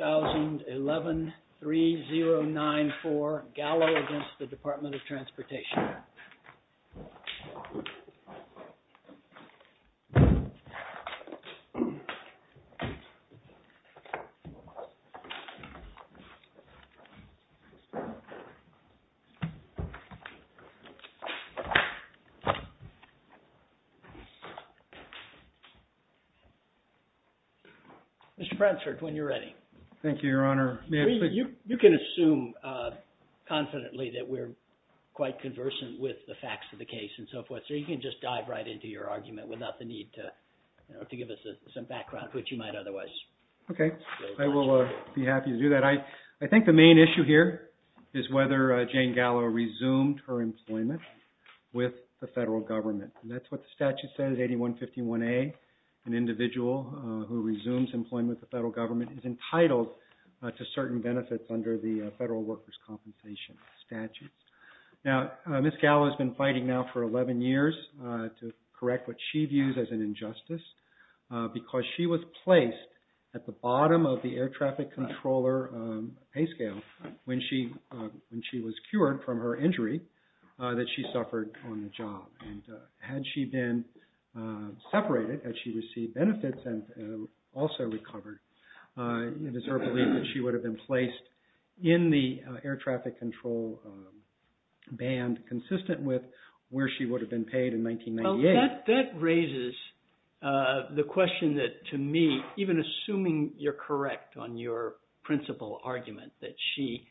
2011-3094 GALLO v. TRANSPORTATION Mr. Frensford, when you're ready. Thank you, Your Honor. You can assume confidently that we're quite conversant with the facts of the case and so forth. So you can just dive right into your argument without the need to give us some background which you might otherwise. Okay. I will be happy to do that. I think the main issue here is whether Jane Gallo resumed her employment with the federal government. That's what the statute says, 8151A, an individual who resumes employment with the federal government and is entitled to certain benefits under the Federal Workers' Compensation Statute. Now Ms. Gallo has been fighting now for 11 years to correct what she views as an injustice because she was placed at the bottom of the air traffic controller pay scale when she was cured from her injury that she suffered on the job. And had she been separated, had she received benefits and also recovered, it is her belief that she would have been placed in the air traffic control band consistent with where she would have been paid in 1998. That raises the question that, to me, even assuming you're correct on your principal argument that she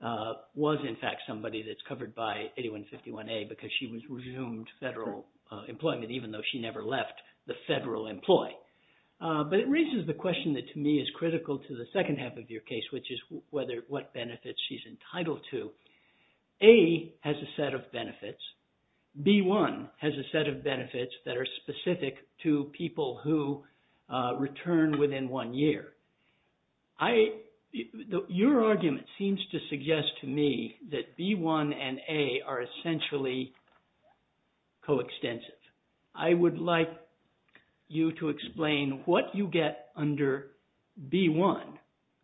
was, in fact, somebody that's covered by 8151A because she resumed federal employment even though she never left the federal employ. But it raises the question that, to me, is critical to the second half of your case which is what benefits she's entitled to. A has a set of benefits. B-1 has a set of benefits that are specific to people who return within one year. Your argument seems to suggest to me that B-1 and A are essentially coextensive. I would like you to explain what you get under B-1,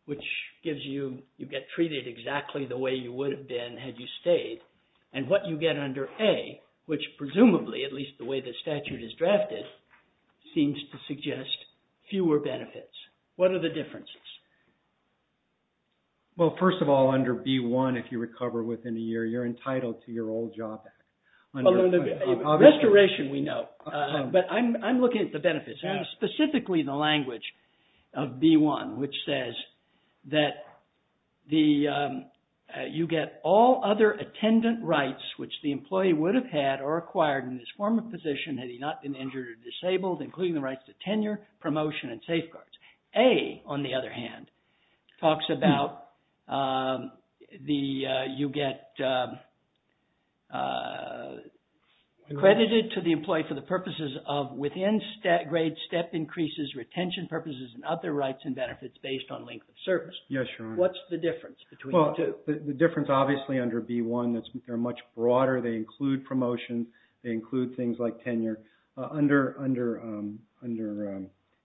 which gives you, you get treated exactly the way you would have been had you stayed, and what you get under A, which presumably, at least the way the statute is drafted, seems to suggest fewer benefits. What are the differences? Well, first of all, under B-1, if you recover within a year, you're entitled to your old job back. Under restoration, we know, but I'm looking at the benefits and specifically the language of B-1, which says that you get all other attendant rights which the employee would have had or acquired in his former position had he not been injured or disabled, including the rights to tenure, promotion, and safeguards. A, on the other hand, talks about you get accredited to the employee for the purposes of within-grade step increases, retention purposes, and other rights and benefits based on length of service. Yes, Your Honor. What's the difference between the two? Well, the difference, obviously, under B-1, they're much broader. They include promotion. They include things like tenure. Under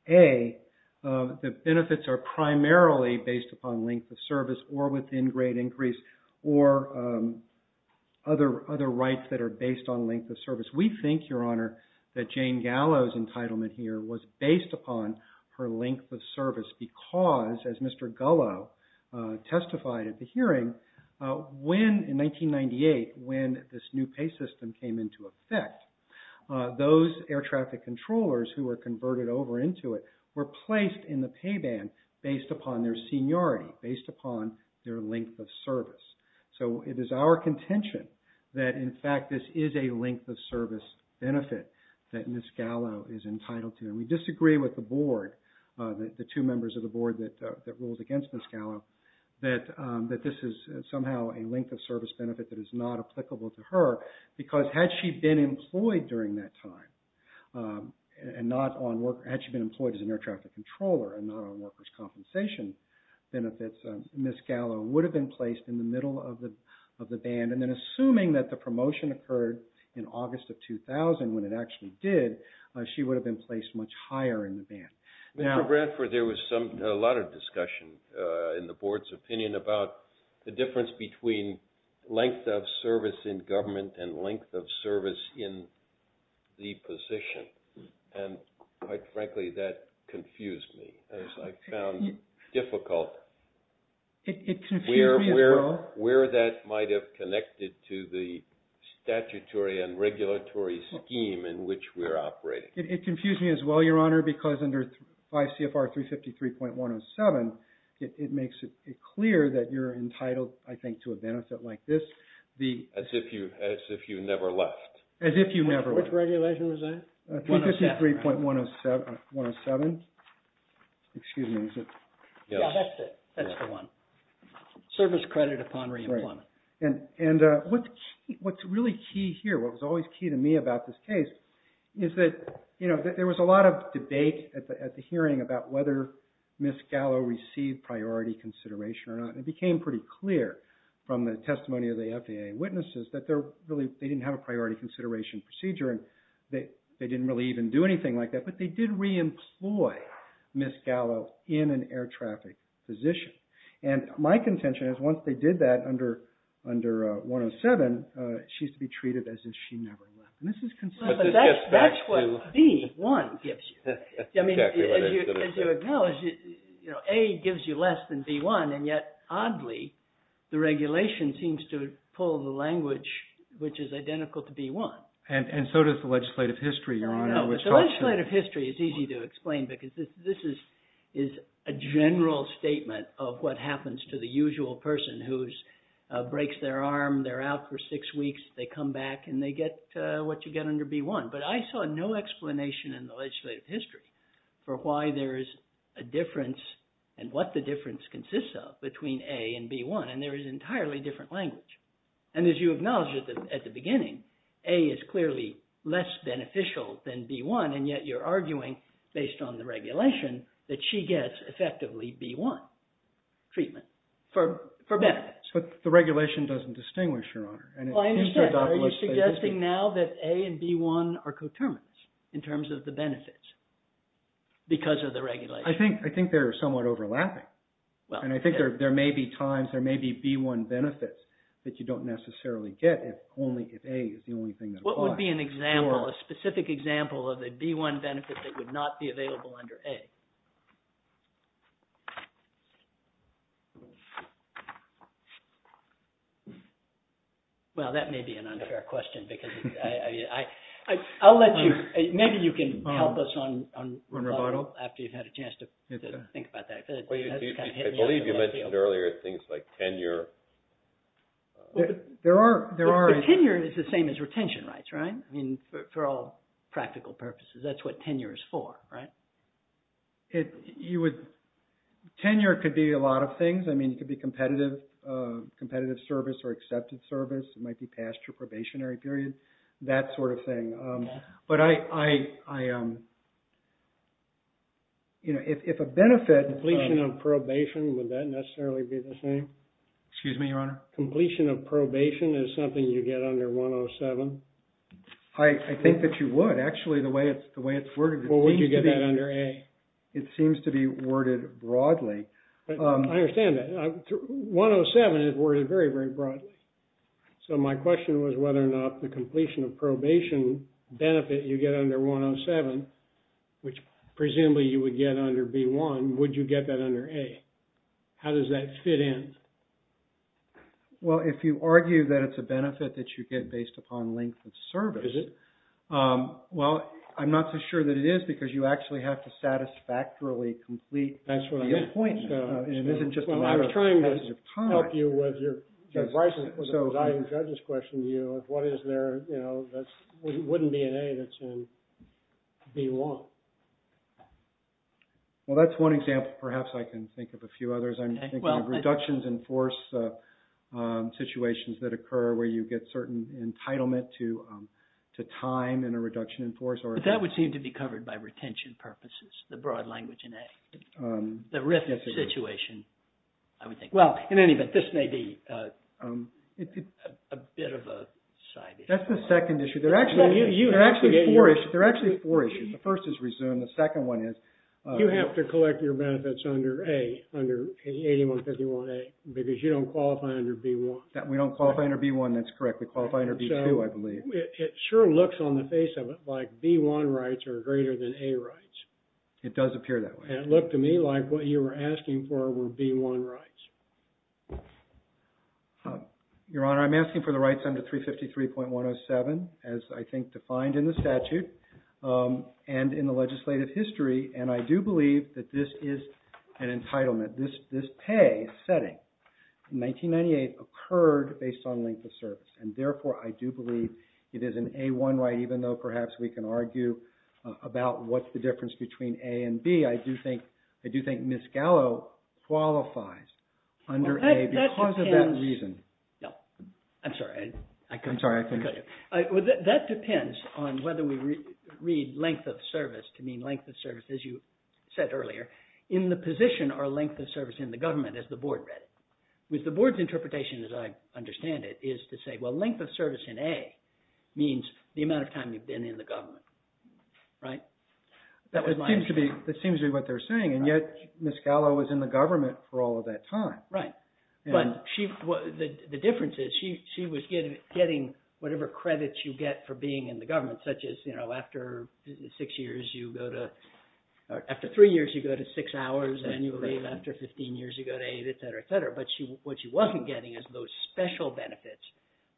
A, the benefits are primarily based upon length of service or within-grade increase or other rights that are based on length of service. We think, Your Honor, that Jane Gallo's entitlement here was based upon her length of service because, as Mr. Gallo testified at the hearing, when, in 1998, when this new pay system came into effect, those air traffic controllers who were converted over into it were placed in the pay band based upon their seniority, based upon their length of service. So it is our contention that, in fact, this is a length of service benefit that Ms. Gallo is entitled to. And we disagree with the board, the two members of the board that ruled against Ms. Gallo, that this is somehow a length of service benefit that is not applicable to her because, had she been employed during that time, and not on work, had she been employed as an air traffic controller and not on workers' compensation benefits, Ms. Gallo would have been placed in the middle of the band. And then, assuming that the promotion occurred in August of 2000, when it actually did, she would have been placed much higher in the band. Mr. Bradford, there was a lot of discussion in the board's opinion about the difference between length of service in government and length of service in the position. And quite frankly, that confused me, as I found difficult where that might have connected to the statutory and regulatory scheme in which we're operating. It confused me as well, Your Honor, because under 5 CFR 353.107, it makes it clear that you're entitled, I think, to a benefit like this. As if you never left. As if you never left. Which regulation was that? 353.107. Excuse me, is it? Yes. That's it. That's the one. Service credit upon re-employment. And what's really key here, what was always key to me about this case, is that there was a lot of debate at the hearing about whether Ms. Gallo received priority consideration or not. And it became pretty clear from the testimony of the FDA witnesses that they didn't have a priority consideration procedure, and they didn't really even do anything like that. But they did re-employ Ms. Gallo in an air traffic position. And my contention is once they did that under 107, she's to be treated as if she never left. And this is consistent. But that's what B1 gives you. I mean, as you acknowledge, A gives you less than B1, and yet, oddly, the regulation seems to pull the language which is identical to B1. And so does the legislative history, Your Honor, which helps you. The legislative history is easy to explain because this is a general statement of what happens to the usual person who breaks their arm, they're out for six weeks, they come back and they get what you get under B1. But I saw no explanation in the legislative history for why there is a difference and what the difference consists of between A and B1. And there is entirely different language. And as you acknowledge at the beginning, A is clearly less beneficial than B1, and yet you're arguing based on the regulation that she gets effectively B1 treatment for benefits. But the regulation doesn't distinguish, Your Honor. Well, I understand. Are you suggesting now that A and B1 are coterminants in terms of the benefits because of the regulation? I think they're somewhat overlapping. And I think there may be times, there may be B1 benefits that you don't necessarily get if only if A is the only thing that applies. What would be an example, a specific example of a B1 benefit that would not be available under A? Well, that may be an unfair question because I'll let you, maybe you can help us on rebuttal after you've had a chance to think about that. I believe you mentioned earlier things like tenure. There are... Tenure is the same as retention rights, right? I mean, for all practical purposes, that's what tenure is for, right? You would... Tenure could be a lot of things. I mean, it could be competitive, competitive service or accepted service. It might be past your probationary period, that sort of thing. But I... You know, if a benefit... Completion of probation, would that necessarily be the same? Excuse me, Your Honor? Completion of probation is something you get under 107? I think that you would. Actually, the way it's worded, it seems to be... Well, would you get that under A? It seems to be worded broadly. I understand that. 107 is worded very, very broadly. So my question was whether or not the completion of probation benefit you get under 107, which presumably you would get under B1, would you get that under A? How does that fit in? Well, if you argue that it's a benefit that you get based upon length of service... Is it? Well, I'm not so sure that it is because you actually have to satisfactorily complete... That's what I meant. That's the point. And it isn't just a matter of passage of time. Well, I'm trying to help you with your... I just questioned you of what is there, you know, that wouldn't be an A that's in B1. Well, that's one example. Perhaps I can think of a few others. I'm thinking of reductions in force situations that occur where you get certain entitlement to time and a reduction in force or... But that would seem to be covered by retention purposes, the broad language in A. The risk situation, I would think. Well, in any event, this may be a bit of a side issue. That's the second issue. There are actually four issues. The first is resume. The second one is... You have to collect your benefits under A, under 8151A because you don't qualify under B1. We don't qualify under B1, that's correct. We qualify under B2, I believe. It sure looks on the face of it like B1 rights are greater than A rights. It does appear that way. And it looked to me like what you were asking for were B1 rights. Your Honor, I'm asking for the rights under 353.107 as I think defined in the statute and in the legislative history, and I do believe that this is an entitlement. This pay setting in 1998 occurred based on length of service, and therefore I do believe it is an A1 right, even though perhaps we can argue about what's the difference between A and B. I do think Ms. Gallo qualifies under A because of that reason. No. I'm sorry. I'm sorry. I couldn't hear you. That depends on whether we read length of service to mean length of service, as you said earlier, in the position or length of service in the government, as the Board read it. With the Board's interpretation, as I understand it, is to say, well, length of service in A means the amount of time you've been in the government. Right? That seems to be what they're saying, and yet Ms. Gallo was in the government for all of that time. Right. But the difference is she was getting whatever credits you get for being in the government, such as after three years you go to six hours, and you leave after 15 years you go to eight, etc., etc. But what she wasn't getting is those special benefits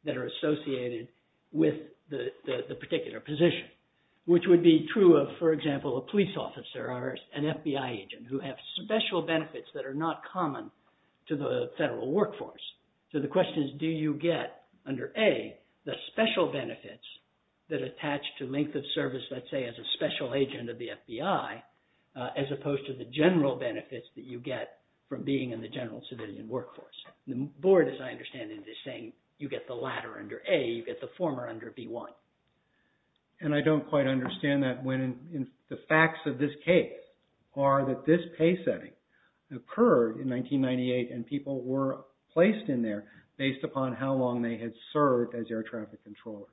that are associated with the particular position, which would be true of, for example, a police officer or an FBI agent who have special benefits that are not common to the federal workforce. So the question is do you get under A the special benefits that attach to length of service, let's say, as a special agent of the FBI, as opposed to the general benefits that you get from being in the general civilian workforce. The Board, as I understand it, is saying you get the latter under A. You get the former under B1. And I don't quite understand that. The facts of this case are that this pay setting occurred in 1998, and people were placed in there based upon how long they had served as air traffic controllers,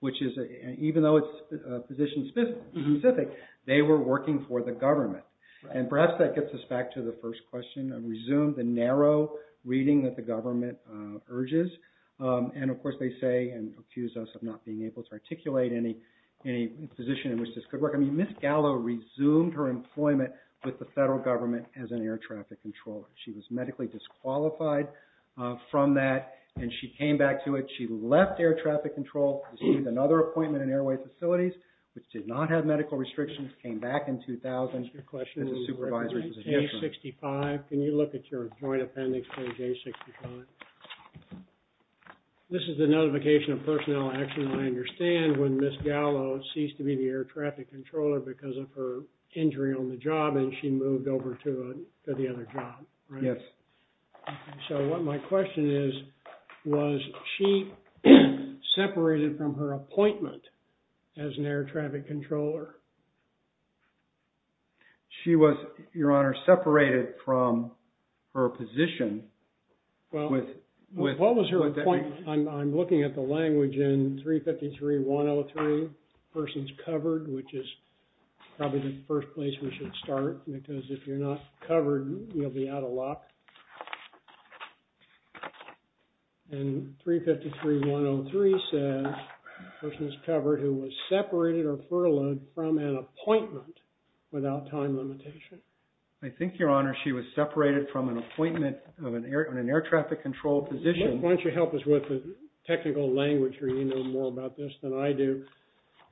which is, even though it's position specific, they were working for the government. And perhaps that gets us back to the first question. I'll resume the narrow reading that the government urges. And, of course, they say and accuse us of not being able to articulate any position in which this could work. I mean, Ms. Gallo resumed her employment with the federal government as an air traffic controller. She was medically disqualified from that, and she came back to it. She left air traffic control, received another appointment in airway facilities, which did not have medical restrictions, came back in 2000. Can you look at your joint appendix for J65? This is a notification of personnel action. I understand when Ms. Gallo ceased to be the air traffic controller because of her injury on the job, and she moved over to the other job, right? Yes. So what my question is, was she separated from her appointment as an air traffic controller? She was, Your Honor, separated from her position. Well, what was her appointment? I'm looking at the language in 353.103, persons covered, which is probably the first place we should start because if you're not covered, you'll be out of luck. And 353.103 says, persons covered who was separated or furloughed from an appointment without time limitation. I think, Your Honor, she was separated from an appointment on an air traffic control position. Why don't you help us with the technical language here? You know more about this than I do.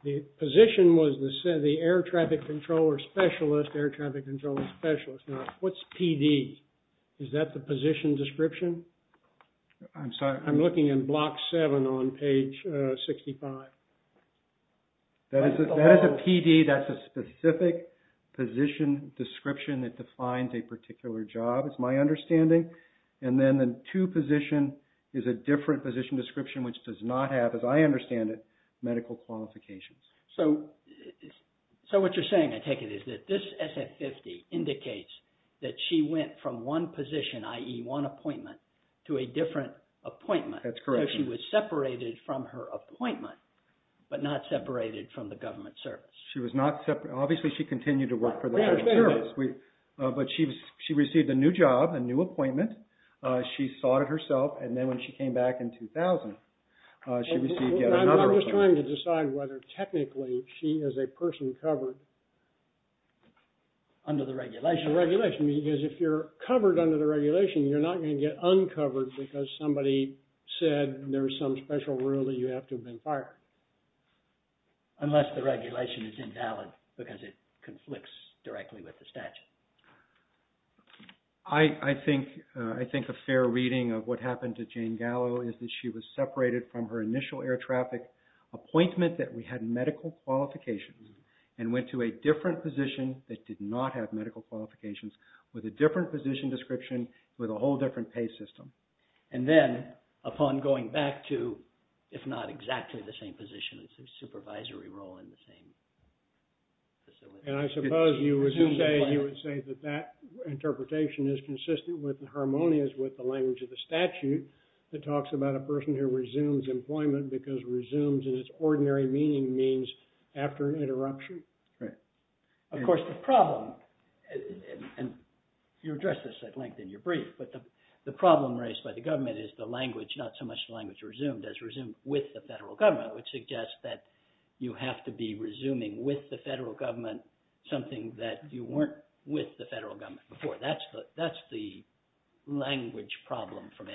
The position was the air traffic controller specialist, air traffic controller specialist. Now, what's PD? Is that the position description? I'm sorry. I'm looking in Block 7 on page 65. That is a PD. That's a specific position description that defines a particular job, is my understanding. And then the two position is a different position description, which does not have, as I understand it, medical qualifications. So what you're saying, I take it, is that this SF-50 indicates that she went from one position, i.e. one appointment, to a different appointment. That's correct. So she was separated from her appointment, but not separated from the government service. She was not separated. Obviously, she continued to work for the government service. But she received a new job, a new appointment. She sought it herself, and then when she came back in 2000, she received yet another appointment. I'm just trying to decide whether technically she is a person covered under the regulation. Under the regulation, because if you're covered under the regulation, you're not going to get uncovered because somebody said there's some special rule that you have to have been fired. Unless the regulation is invalid, because it conflicts directly with the statute. I think a fair reading of what happened to Jane Gallo is that she was separated from her initial air traffic appointment, that we had medical qualifications, and went to a different position that did not have medical qualifications, with a different position description, with a whole different pay system. And then, upon going back to, if not exactly the same position, it's a supervisory role in the same facility. And I suppose you would say that that interpretation is consistent with the harmonious with the language of the statute, that talks about a person who resumes employment because resumes in its ordinary meaning means after an interruption. Right. Of course, the problem, and you addressed this at length in your brief, but the problem raised by the government is the language, not so much the language resumed as resumed with the federal government, which suggests that you have to be resuming with the federal government something that you weren't with the federal government before. That's the language problem for me.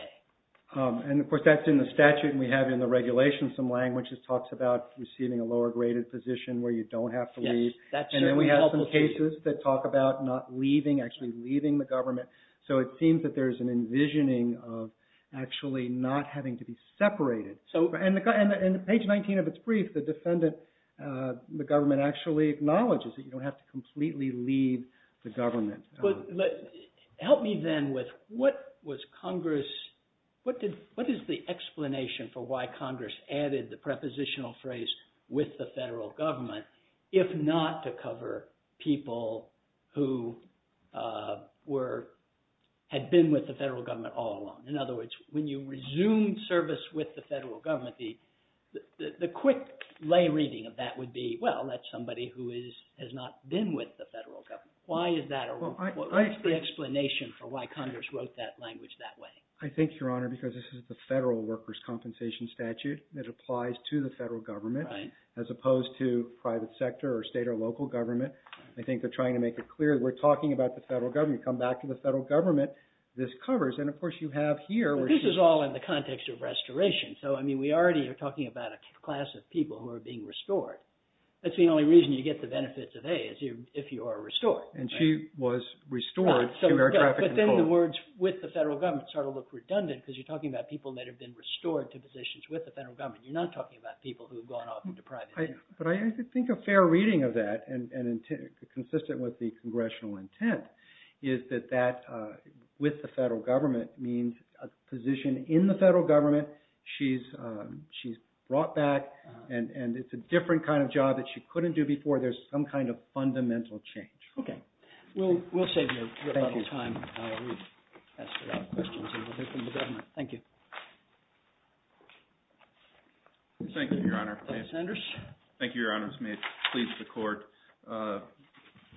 And, of course, that's in the statute, and we have in the regulation some language that talks about receiving a lower-graded position where you don't have to leave. Yes, that's certainly helpful for you. And then we have some cases that talk about not leaving, actually leaving the government. So it seems that there's an envisioning of actually not having to be separated. And on page 19 of its brief, the defendant, the government actually acknowledges that you don't have to completely leave the government. Help me then with what is the explanation for why Congress added the prepositional phrase with the federal government, if not to cover people who had been with the federal government all along. In other words, when you resume service with the federal government, the quick lay reading of that would be, well, that's somebody who has not been with the federal government. Why is that? What is the explanation for why Congress wrote that language that way? I think, Your Honor, because this is the federal workers' compensation statute that applies to the federal government, as opposed to private sector or state or local government. I think they're trying to make it clear that we're talking about the federal government. When you come back to the federal government, this covers. And, of course, you have here where she's… But this is all in the context of restoration. So, I mean, we already are talking about a class of people who are being restored. That's the only reason you get the benefits of A, is if you are restored. And she was restored. But then the words with the federal government sort of look redundant, because you're talking about people that have been restored to positions with the federal government. You're not talking about people who have gone off into private… But I think a fair reading of that, and consistent with the congressional intent, is that that with the federal government means a position in the federal government. She's brought back. And it's a different kind of job that she couldn't do before. There's some kind of fundamental change. Okay. We'll save you a little time. We've asked a lot of questions in relation to government. Thank you. Thank you, Your Honor. Thank you, Your Honors. May it please the Court.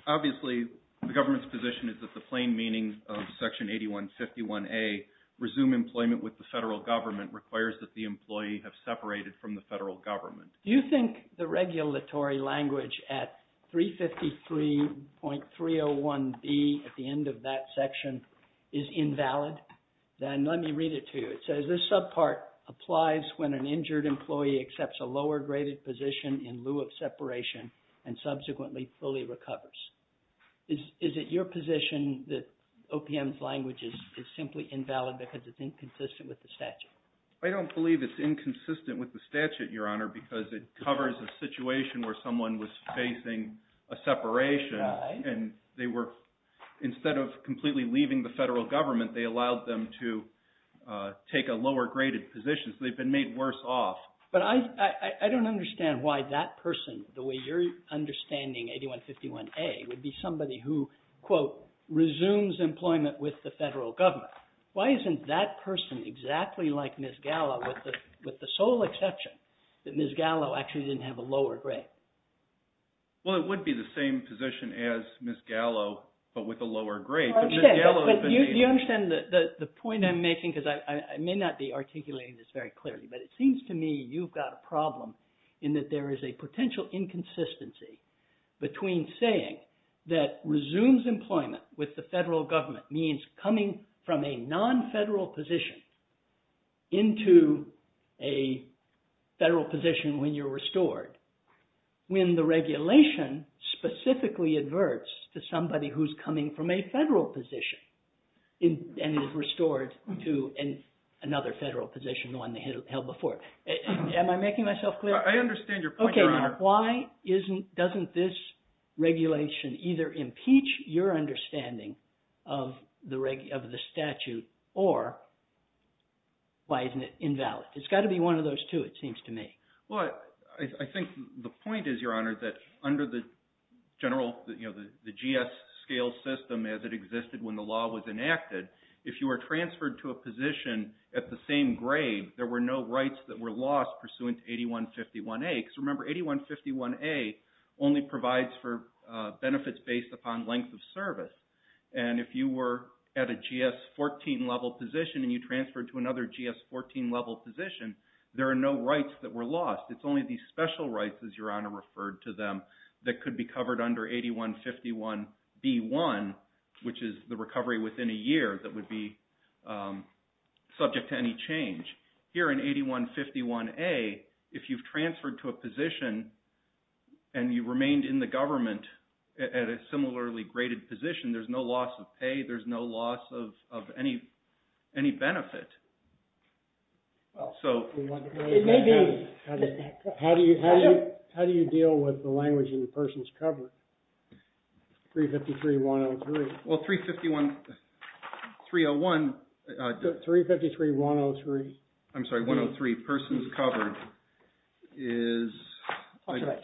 Obviously, the government's position is that the plain meaning of Section 8151A, resume employment with the federal government, requires that the employee have separated from the federal government. Do you think the regulatory language at 353.301B at the end of that section is invalid? Then let me read it to you. It says, this subpart applies when an injured employee accepts a lower-graded position in lieu of separation and subsequently fully recovers. Is it your position that OPM's language is simply invalid because it's inconsistent with the statute? I don't believe it's inconsistent with the statute, Your Honor, because it covers a situation where someone was facing a separation. And they were, instead of completely leaving the federal government, they allowed them to take a lower-graded position. So they've been made worse off. But I don't understand why that person, the way you're understanding 8151A, would be somebody who, quote, resumes employment with the federal government. Why isn't that person exactly like Ms. Gallo, with the sole exception that Ms. Gallo actually didn't have a lower grade? Well, it would be the same position as Ms. Gallo, but with a lower grade. You understand the point I'm making, because I may not be articulating this very clearly, but it seems to me you've got a problem in that there is a potential inconsistency between saying that resumes employment with the federal government means coming from a non-federal position into a federal position when you're restored, when the regulation specifically adverts to somebody who's coming from a federal position and is restored to another federal position, the one they held before. Am I making myself clear? I understand your point, Your Honor. Okay, now, why doesn't this regulation either impeach your understanding of the statute, or why isn't it invalid? It's got to be one of those two, it seems to me. Well, I think the point is, Your Honor, that under the general, you know, the GS scale system as it existed when the law was enacted, if you were transferred to a position at the same grade, there were no rights that were lost pursuant to 8151A. Because remember, 8151A only provides for benefits based upon length of service. And if you were at a GS-14 level position and you transferred to another GS-14 level position, there are no rights that were lost. It's only these special rights, as Your Honor referred to them, that could be covered under 8151B1, which is the recovery within a year that would be subject to any change. Here in 8151A, if you've transferred to a position and you remained in the government at a similarly graded position, there's no loss of pay, there's no loss of any benefit. Well, it may be. How do you deal with the language in persons covered? 353-103. Well, 351, 301. 353-103. I'm sorry, 103, persons covered is.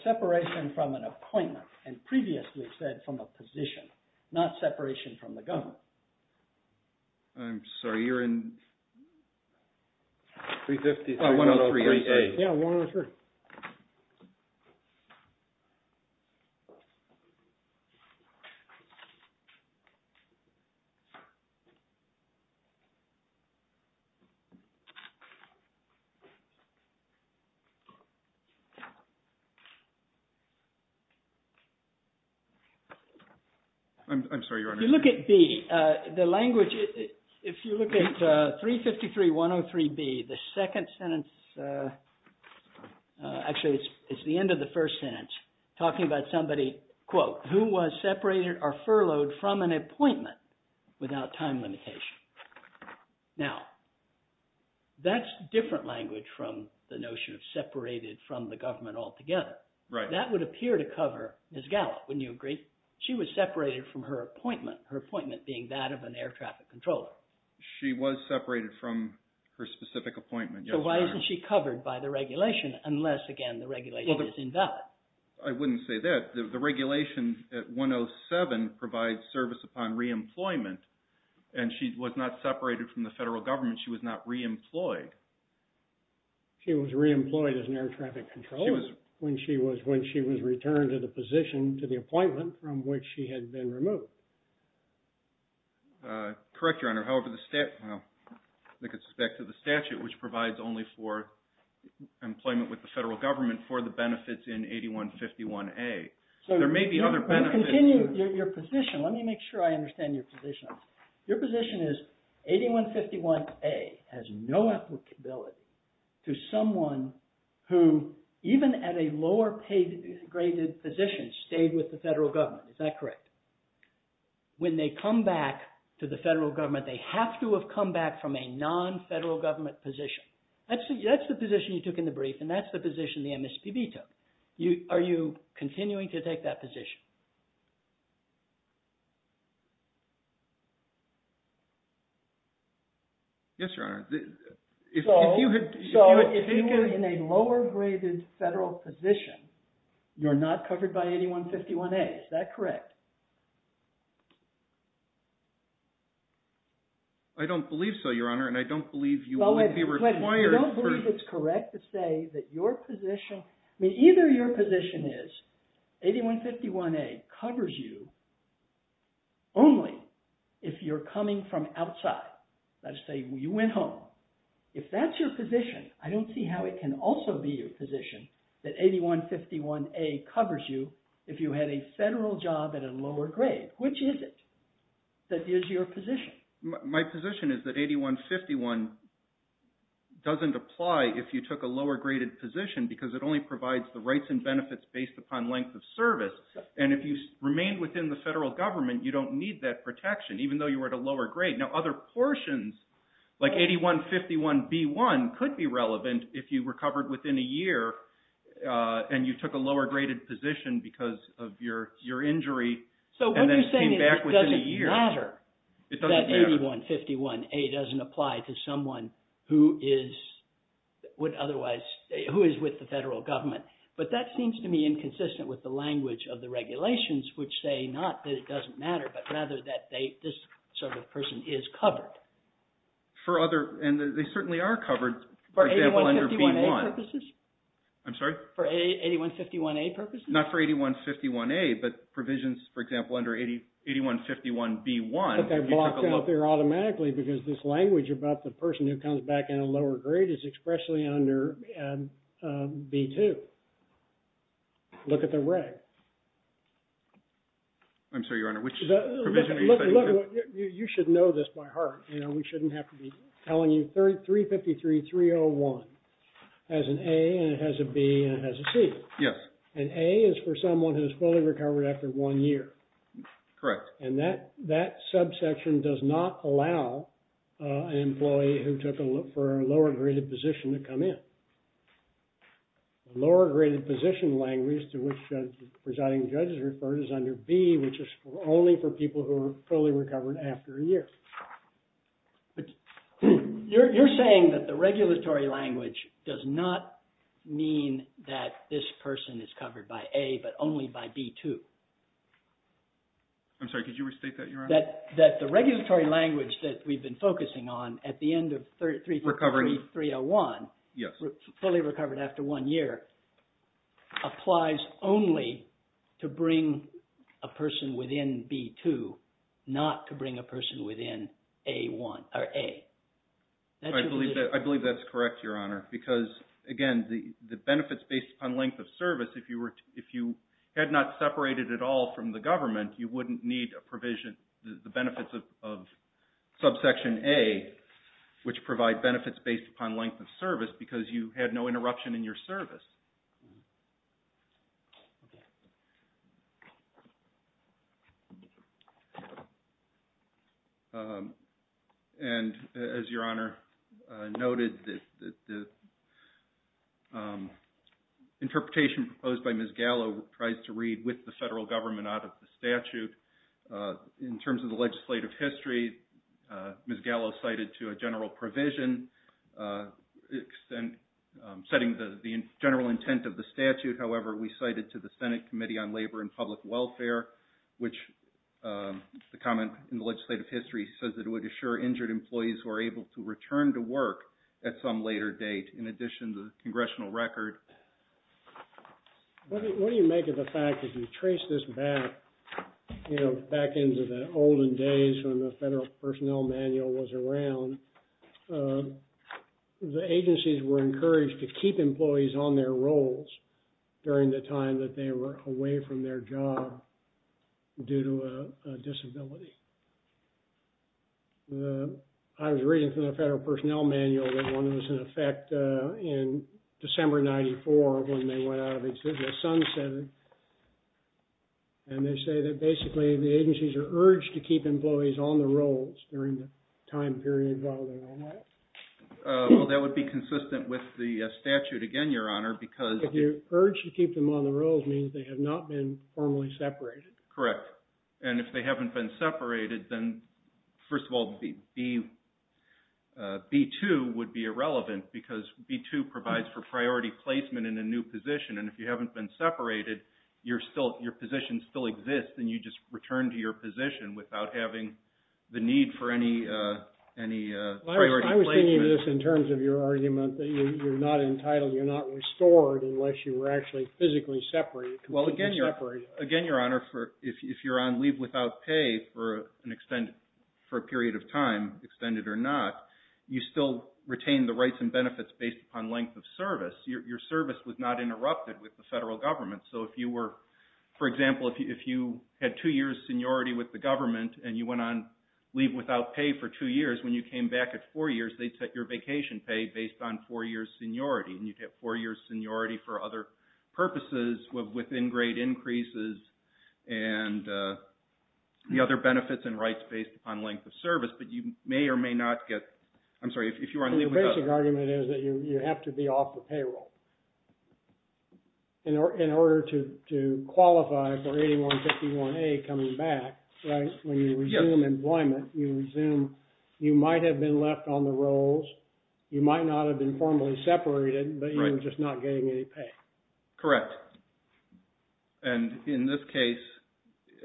Separation from an appointment and previously said from a position, not separation from the government. I'm sorry, you're in 353-103. Yeah, 103. I'm sorry, Your Honor. If you look at B, the language, if you look at 353-103B, the second sentence, actually it's the end of the first sentence, talking about somebody, quote, who was separated or furloughed from an appointment without time limitation. Now, that's different language from the notion of separated from the government altogether. Right. That would appear to cover Ms. Gallup. Wouldn't you agree? She was separated from her appointment, her appointment being that of an air traffic controller. She was separated from her specific appointment. So why isn't she covered by the regulation unless, again, the regulation is invalid? I wouldn't say that. The regulation at 107 provides service upon reemployment and she was not separated from the federal government. She was not reemployed. She was reemployed as an air traffic controller when she was returned to the position to the appointment from which she had been removed. Correct, Your Honor. However, the statute, which provides only for employment with the federal government for the benefits in 8151A. There may be other benefits. Continue your position. Let me make sure I understand your position. Your position is 8151A has no applicability to someone who even at a lower paid graded position stayed with the federal government. Is that correct? When they come back to the federal government, they have to have come back from a non-federal government position. That's the position you took in the brief and that's the position the MSPB took. Are you continuing to take that position? Yes, Your Honor. So if you were in a lower graded federal position, you're not covered by 8151A. Is that correct? I don't believe so, Your Honor, and I don't believe you would be required. I don't believe it's correct to say that your position, I mean either your position is 8151A covers you only if you're coming from outside. Let's say you went home. If that's your position, I don't see how it can also be your position that 8151A covers you if you had a federal job at a lower grade. Which is it that is your position? My position is that 8151 doesn't apply if you took a lower graded position because it only provides the rights and benefits based upon length of service. And if you remain within the federal government, you don't need that protection even though you were at a lower grade. Now other portions like 8151B1 could be relevant if you recovered within a year and you took a lower graded position because of your injury and then came back within a year. It doesn't matter that 8151A doesn't apply to someone who is with the federal government. But that seems to me inconsistent with the language of the regulations which say not that it doesn't matter, but rather that this sort of person is covered. For other, and they certainly are covered, for example, under B1. For 8151A purposes? I'm sorry? For 8151A purposes? Not for 8151A, but provisions, for example, under 8151B1. But they're blocked out there automatically because this language about the person who comes back in a lower grade is expressly under B2. Look at the reg. I'm sorry, Your Honor, which provision are you saying? You should know this by heart. We shouldn't have to be telling you 353.301 has an A and it has a B and it has a C. Yes. And A is for someone who is fully recovered after one year. Correct. And that subsection does not allow an employee who took a lower graded position to come in. The lower graded position language to which the presiding judge has referred is under B, which is only for people who are fully recovered after a year. You're saying that the regulatory language does not mean that this person is covered by A, but only by B2. I'm sorry, could you restate that, Your Honor? That the regulatory language that we've been focusing on at the end of 353.301, fully recovered after one year, applies only to bring a person within B2, not to bring a person within A1 or A. I believe that's correct, Your Honor, because again, the benefits based upon length of service, if you had not separated at all from the government, you wouldn't need a provision, the benefits of subsection A, which provide benefits based upon length of service because you had no interruption in your service. And as Your Honor noted, the interpretation proposed by Ms. Gallo tries to read with the federal government out of the statute. In terms of the legislative history, Ms. Gallo cited to a general provision, setting the general intent of the statute. However, we cited to the Senate Committee on Labor and Public Welfare, which the comment in the legislative history says that it would assure injured employees who are able to return to work at some later date, in addition to the congressional record. What do you make of the fact that you trace this back, you know, back into the olden days when the Federal Personnel Manual was around, the agencies were encouraged to keep employees on their roles during the time that they were away from their job due to a disability. I was reading from the Federal Personnel Manual that one was in effect in December 1994 when they went out of existence, and they say that basically the agencies are urged to keep employees on their roles during the time period while they were away. Well, that would be consistent with the statute again, Your Honor, because... The urge to keep them on their roles means they have not been formally separated. Correct. And if they haven't been separated, then, first of all, B2 would be irrelevant, because B2 provides for priority placement in a new position. And if you haven't been separated, your position still exists, and you just return to your position without having the need for any priority placement. I was thinking of this in terms of your argument that you're not entitled, you're not restored unless you were actually physically separated, completely separated. Well, again, Your Honor, if you're on leave without pay for a period of time, extended or not, you still retain the rights and benefits based upon length of service. Your service was not interrupted with the federal government. So if you were, for example, if you had two years' seniority with the government, and you went on leave without pay for two years, when you came back at four years, they'd set your vacation pay based on four years' seniority, and you'd have four years' seniority for other purposes within grade increases and the other benefits and rights based upon length of service. But you may or may not get – I'm sorry, if you were on leave without – The basic argument is that you have to be off the payroll in order to qualify for 8151A coming back, right? When you resume employment, you resume – you might have been left on the rolls, you might not have been formally separated, but you were just not getting any pay. Correct. And in this case,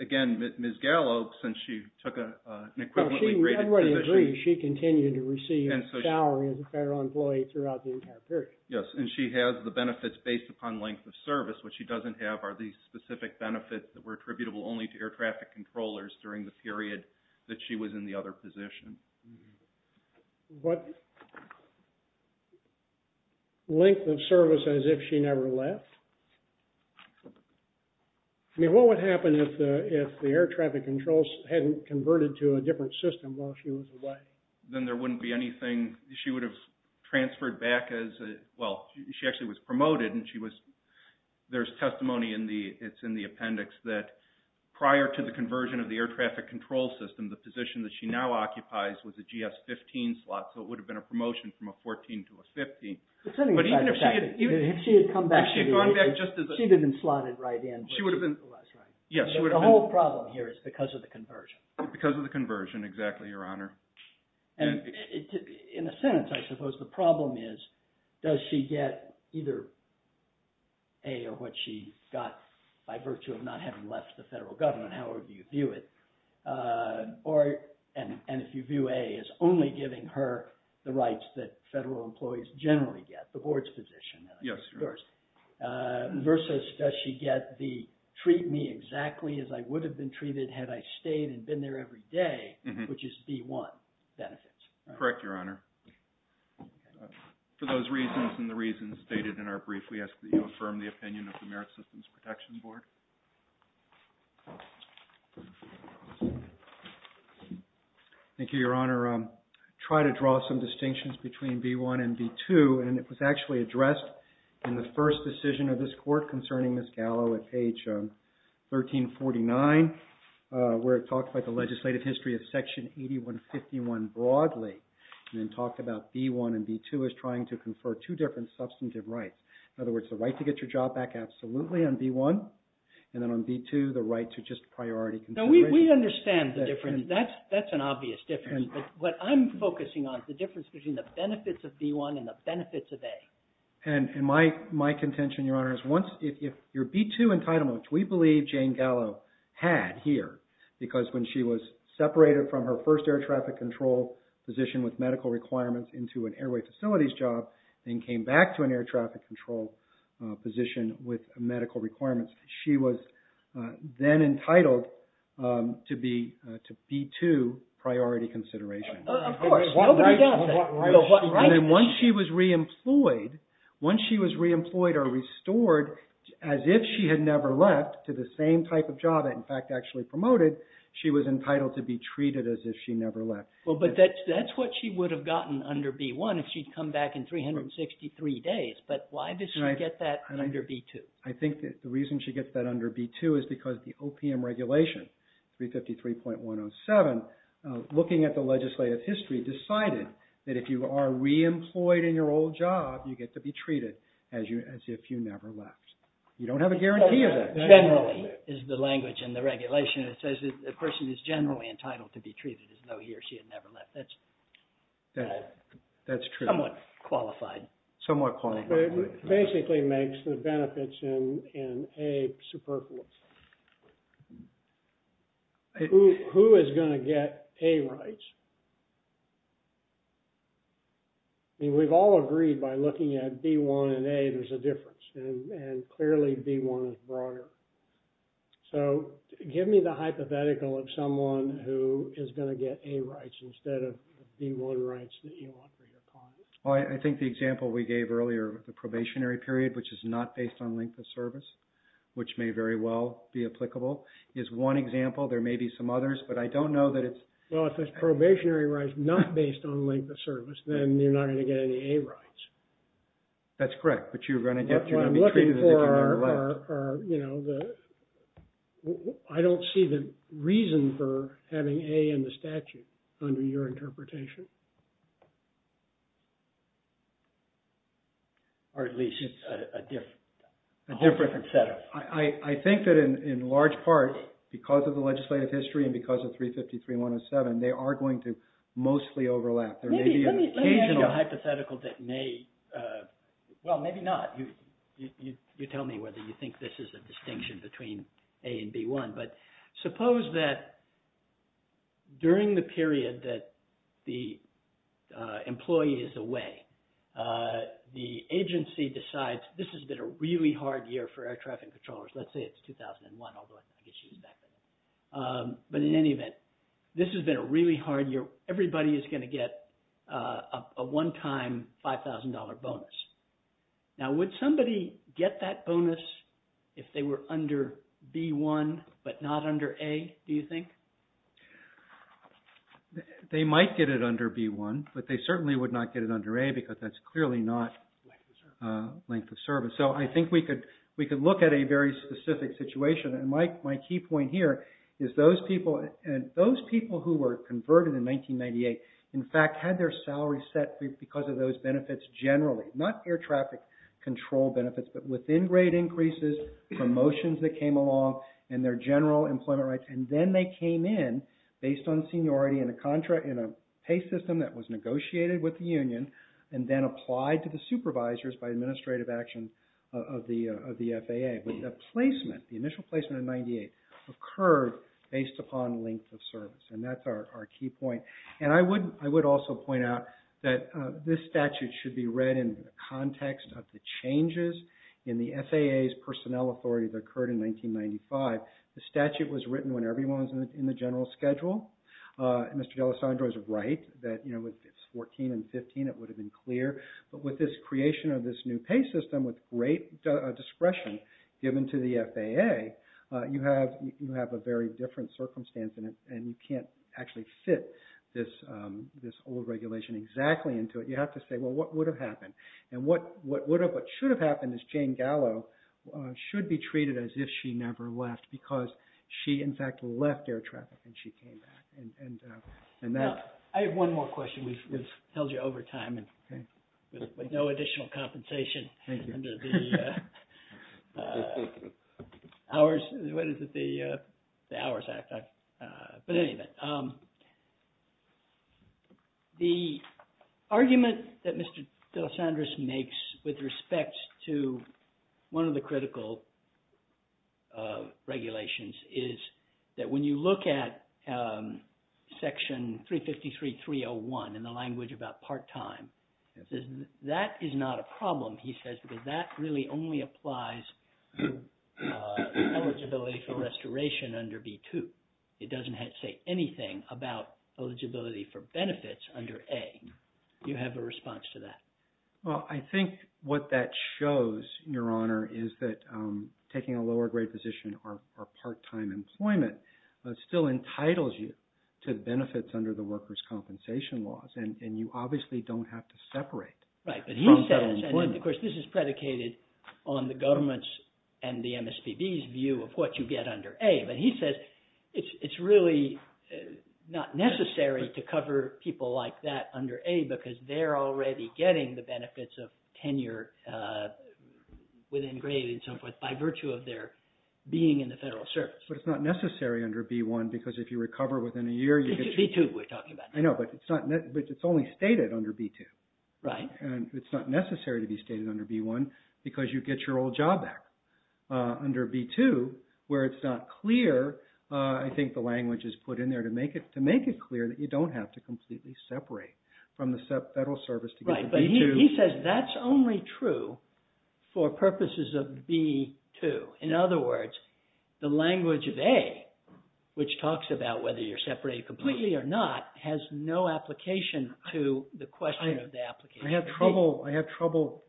again, Ms. Gallo, since she took an equivalently graded position – Everybody agrees she continued to receive a salary as a federal employee throughout the entire period. Yes, and she has the benefits based upon length of service. What she doesn't have are these specific benefits that were attributable only to air traffic controllers during the period that she was in the other position. What length of service as if she never left? I mean, what would happen if the air traffic controls hadn't converted to a different system while she was away? Then there wouldn't be anything. She would have transferred back as – well, she actually was promoted, and she was – there's testimony in the – it's in the appendix that prior to the conversion of the air traffic control system, the position that she now occupies was a GS-15 slot, so it would have been a promotion from a 14 to a 15. But even if she had – If she had gone back just as a – She would have been slotted right in. Yes, she would have been – The whole problem here is because of the conversion. Because of the conversion, exactly, Your Honor. In a sentence, I suppose the problem is, does she get either A or what she got by virtue of not having left the federal government, however you view it, or – and if you view A as only giving her the rights that federal employees generally get, the board's position. Yes, Your Honor. Versus does she get the treat me exactly as I would have been treated had I stayed and been there every day, which is D-1 benefits. Correct, Your Honor. For those reasons and the reasons stated in our brief, we ask that you affirm the opinion of the Merit Systems Protection Board. Thank you, Your Honor. I'll try to draw some distinctions between B-1 and B-2, and it was actually addressed in the first decision of this court concerning Ms. Gallo at page 1349, where it talked about the legislative history of Section 8151 broadly, and then talked about B-1 and B-2 as trying to confer two different substantive rights. In other words, the right to get your job back absolutely on B-1, and then on B-2, the right to just priority consideration. Now, we understand the difference. That's an obvious difference. But what I'm focusing on is the difference between the benefits of B-1 and the benefits of A. And my contention, Your Honor, is once – if your B-2 entitlement, which we believe Jane Gallo had here, because when she was separated from her first air traffic control position with medical requirements into an airway facilities job, then came back to an air traffic control position with medical requirements, she was then entitled to B-2 priority consideration. Of course. Nobody does that. And then once she was reemployed, once she was reemployed or restored as if she had never left to the same type of job that, in fact, actually promoted, she was entitled to be treated as if she never left. Well, but that's what she would have gotten under B-1 if she'd come back in 363 days. But why did she get that under B-2? I think that the reason she gets that under B-2 is because the OPM regulation, 353.107, looking at the legislative history, decided that if you are reemployed in your old job, you get to be treated as if you never left. You don't have a guarantee of that. Generally, is the language in the regulation that says a person is generally entitled to be treated as though he or she had never left. That's true. Somewhat qualified. Somewhat qualified. It basically makes the benefits in A superfluous. Who is going to get A rights? I mean, we've all agreed by looking at B-1 and A, there's a difference. And clearly, B-1 is broader. So give me the hypothetical of someone who is going to get A rights instead of B-1 rights that you want for your client. Well, I think the example we gave earlier, the probationary period, which is not based on length of service, which may very well be applicable, is one example. There may be some others. But I don't know that it's… Well, if it's probationary rights not based on length of service, then you're not going to get any A rights. That's correct. But you're going to be treated as if you never left. I don't see the reason for having A in the statute under your interpretation. Or at least it's a different set up. I think that in large part, because of the legislative history and because of 353-107, they are going to mostly overlap. There may be an occasional hypothetical that may… Well, maybe not. You tell me whether you think this is a distinction between A and B-1. But suppose that during the period that the employee is away, the agency decides this has been a really hard year for air traffic controllers. Let's say it's 2001, although I think it should be back then. But in any event, this has been a really hard year. Everybody is going to get a one-time $5,000 bonus. Now, would somebody get that bonus if they were under B-1 but not under A, do you think? They might get it under B-1, but they certainly would not get it under A because that's clearly not length of service. So I think we could look at a very specific situation. My key point here is those people who were converted in 1998, in fact, had their salaries set because of those benefits generally. Not air traffic control benefits, but within-grade increases, promotions that came along, and their general employment rights. And then they came in based on seniority in a pay system that was negotiated with the union and then applied to the supervisors by administrative action of the FAA. But the placement, the initial placement in 1998, occurred based upon length of service, and that's our key point. And I would also point out that this statute should be read in the context of the changes in the FAA's personnel authority that occurred in 1995. The statute was written when everyone was in the general schedule. Mr. D'Alessandro is right that, you know, it's 14 and 15, it would have been clear. But with this creation of this new pay system with great discretion given to the FAA, you have a very different circumstance and you can't actually fit this old regulation exactly into it. You have to say, well, what would have happened? And what should have happened is Jane Gallo should be treated as if she never left because she, in fact, left air traffic and she came back. I have one more question, which tells you over time and with no additional compensation. Thank you. Hours. What is it? The Hours Act. But anyway, the argument that Mr. D'Alessandro makes with respect to one of the critical regulations is that when you look at Section 353.301 in the language about part-time, that is not a problem. He says that that really only applies to eligibility for restoration under B-2. It doesn't say anything about eligibility for benefits under A. Do you have a response to that? Well, I think what that shows, Your Honor, is that taking a lower-grade position or part-time employment still entitles you to benefits under the workers' compensation laws. And you obviously don't have to separate from federal employment. Right. But he says, and of course, this is predicated on the government's and the MSPB's view of what you get under A. But he says it's really not necessary to cover people like that under A because they're already getting the benefits of tenure within grade and so forth by virtue of their being in the federal service. But it's not necessary under B-1 because if you recover within a year, you get… B-2, we're talking about. I know, but it's only stated under B-2. Right. And it's not necessary to be stated under B-1 because you get your old job back. Under B-2, where it's not clear, I think the language is put in there to make it clear that you don't have to completely separate from the federal service to get to B-2. Right. But he says that's only true for purposes of B-2. In other words, the language of A, which talks about whether you're separated completely or not, has no application to the question of the application of B. I have trouble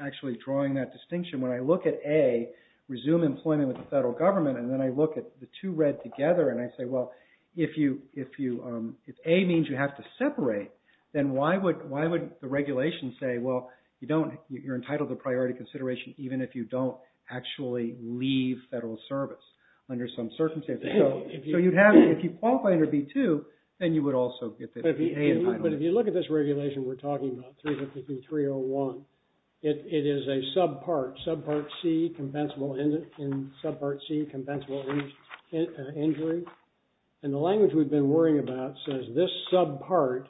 actually drawing that distinction. When I look at A, resume employment with the federal government, and then I look at the two read together and I say, well, if A means you have to separate, then why would the regulation say, well, you're entitled to priority consideration even if you don't actually leave federal service under some circumstances. So if you qualify under B-2, then you would also get the A entitlement. But if you look at this regulation we're talking about, 353.301, it is a subpart, subpart C, compensable injury. And the language we've been worrying about says this subpart,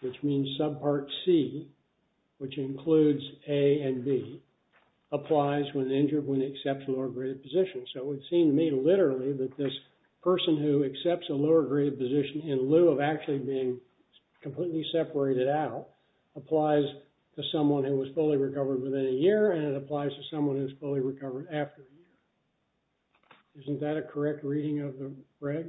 which means subpart C, which includes A and B, applies when the injured one accepts a lower graded position. So it would seem to me literally that this person who accepts a lower graded position in lieu of actually being completely separated out applies to someone who was fully recovered within a year, and it applies to someone who is fully recovered after the year. Isn't that a correct reading of the reg?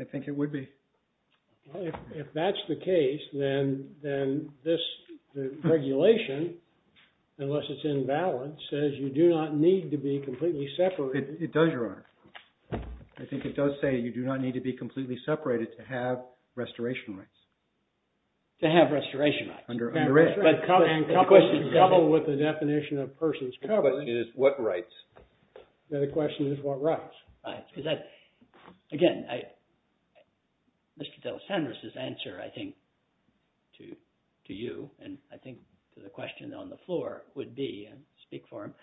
I think it would be. If that's the case, then this regulation, unless it's in balance, says you do not need to be completely separated. It does, Your Honor. I think it does say you do not need to be completely separated to have restoration rights. To have restoration rights. And coupled with the definition of person's coverage. The question is what rights? The question is what rights. Again, Mr. DelaSandra's answer, I think, to you, and I think to the question on the floor would be, and speak for him,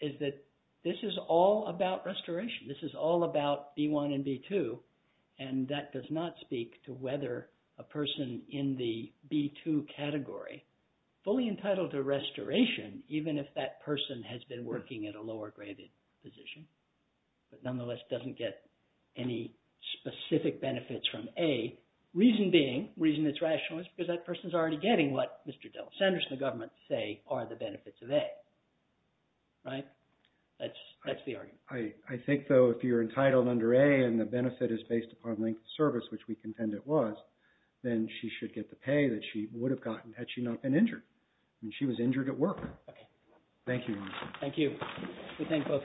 is that this is all about restoration. This is all about B1 and B2, and that does not speak to whether a person in the B2 category, fully entitled to restoration, even if that person has been working at a lower graded position, but nonetheless doesn't get any specific benefits from A. Reason being, reason it's rational is because that person's already getting what Mr. DelaSandra and the government say are the benefits of A. Right? That's the argument. I think, though, if you're entitled under A and the benefit is based upon length of service, which we contend it was, then she should get the pay that she would have gotten had she not been injured. And she was injured at work. Okay. Thank you, Your Honor. Thank you. We thank both counsel. The case is submitted.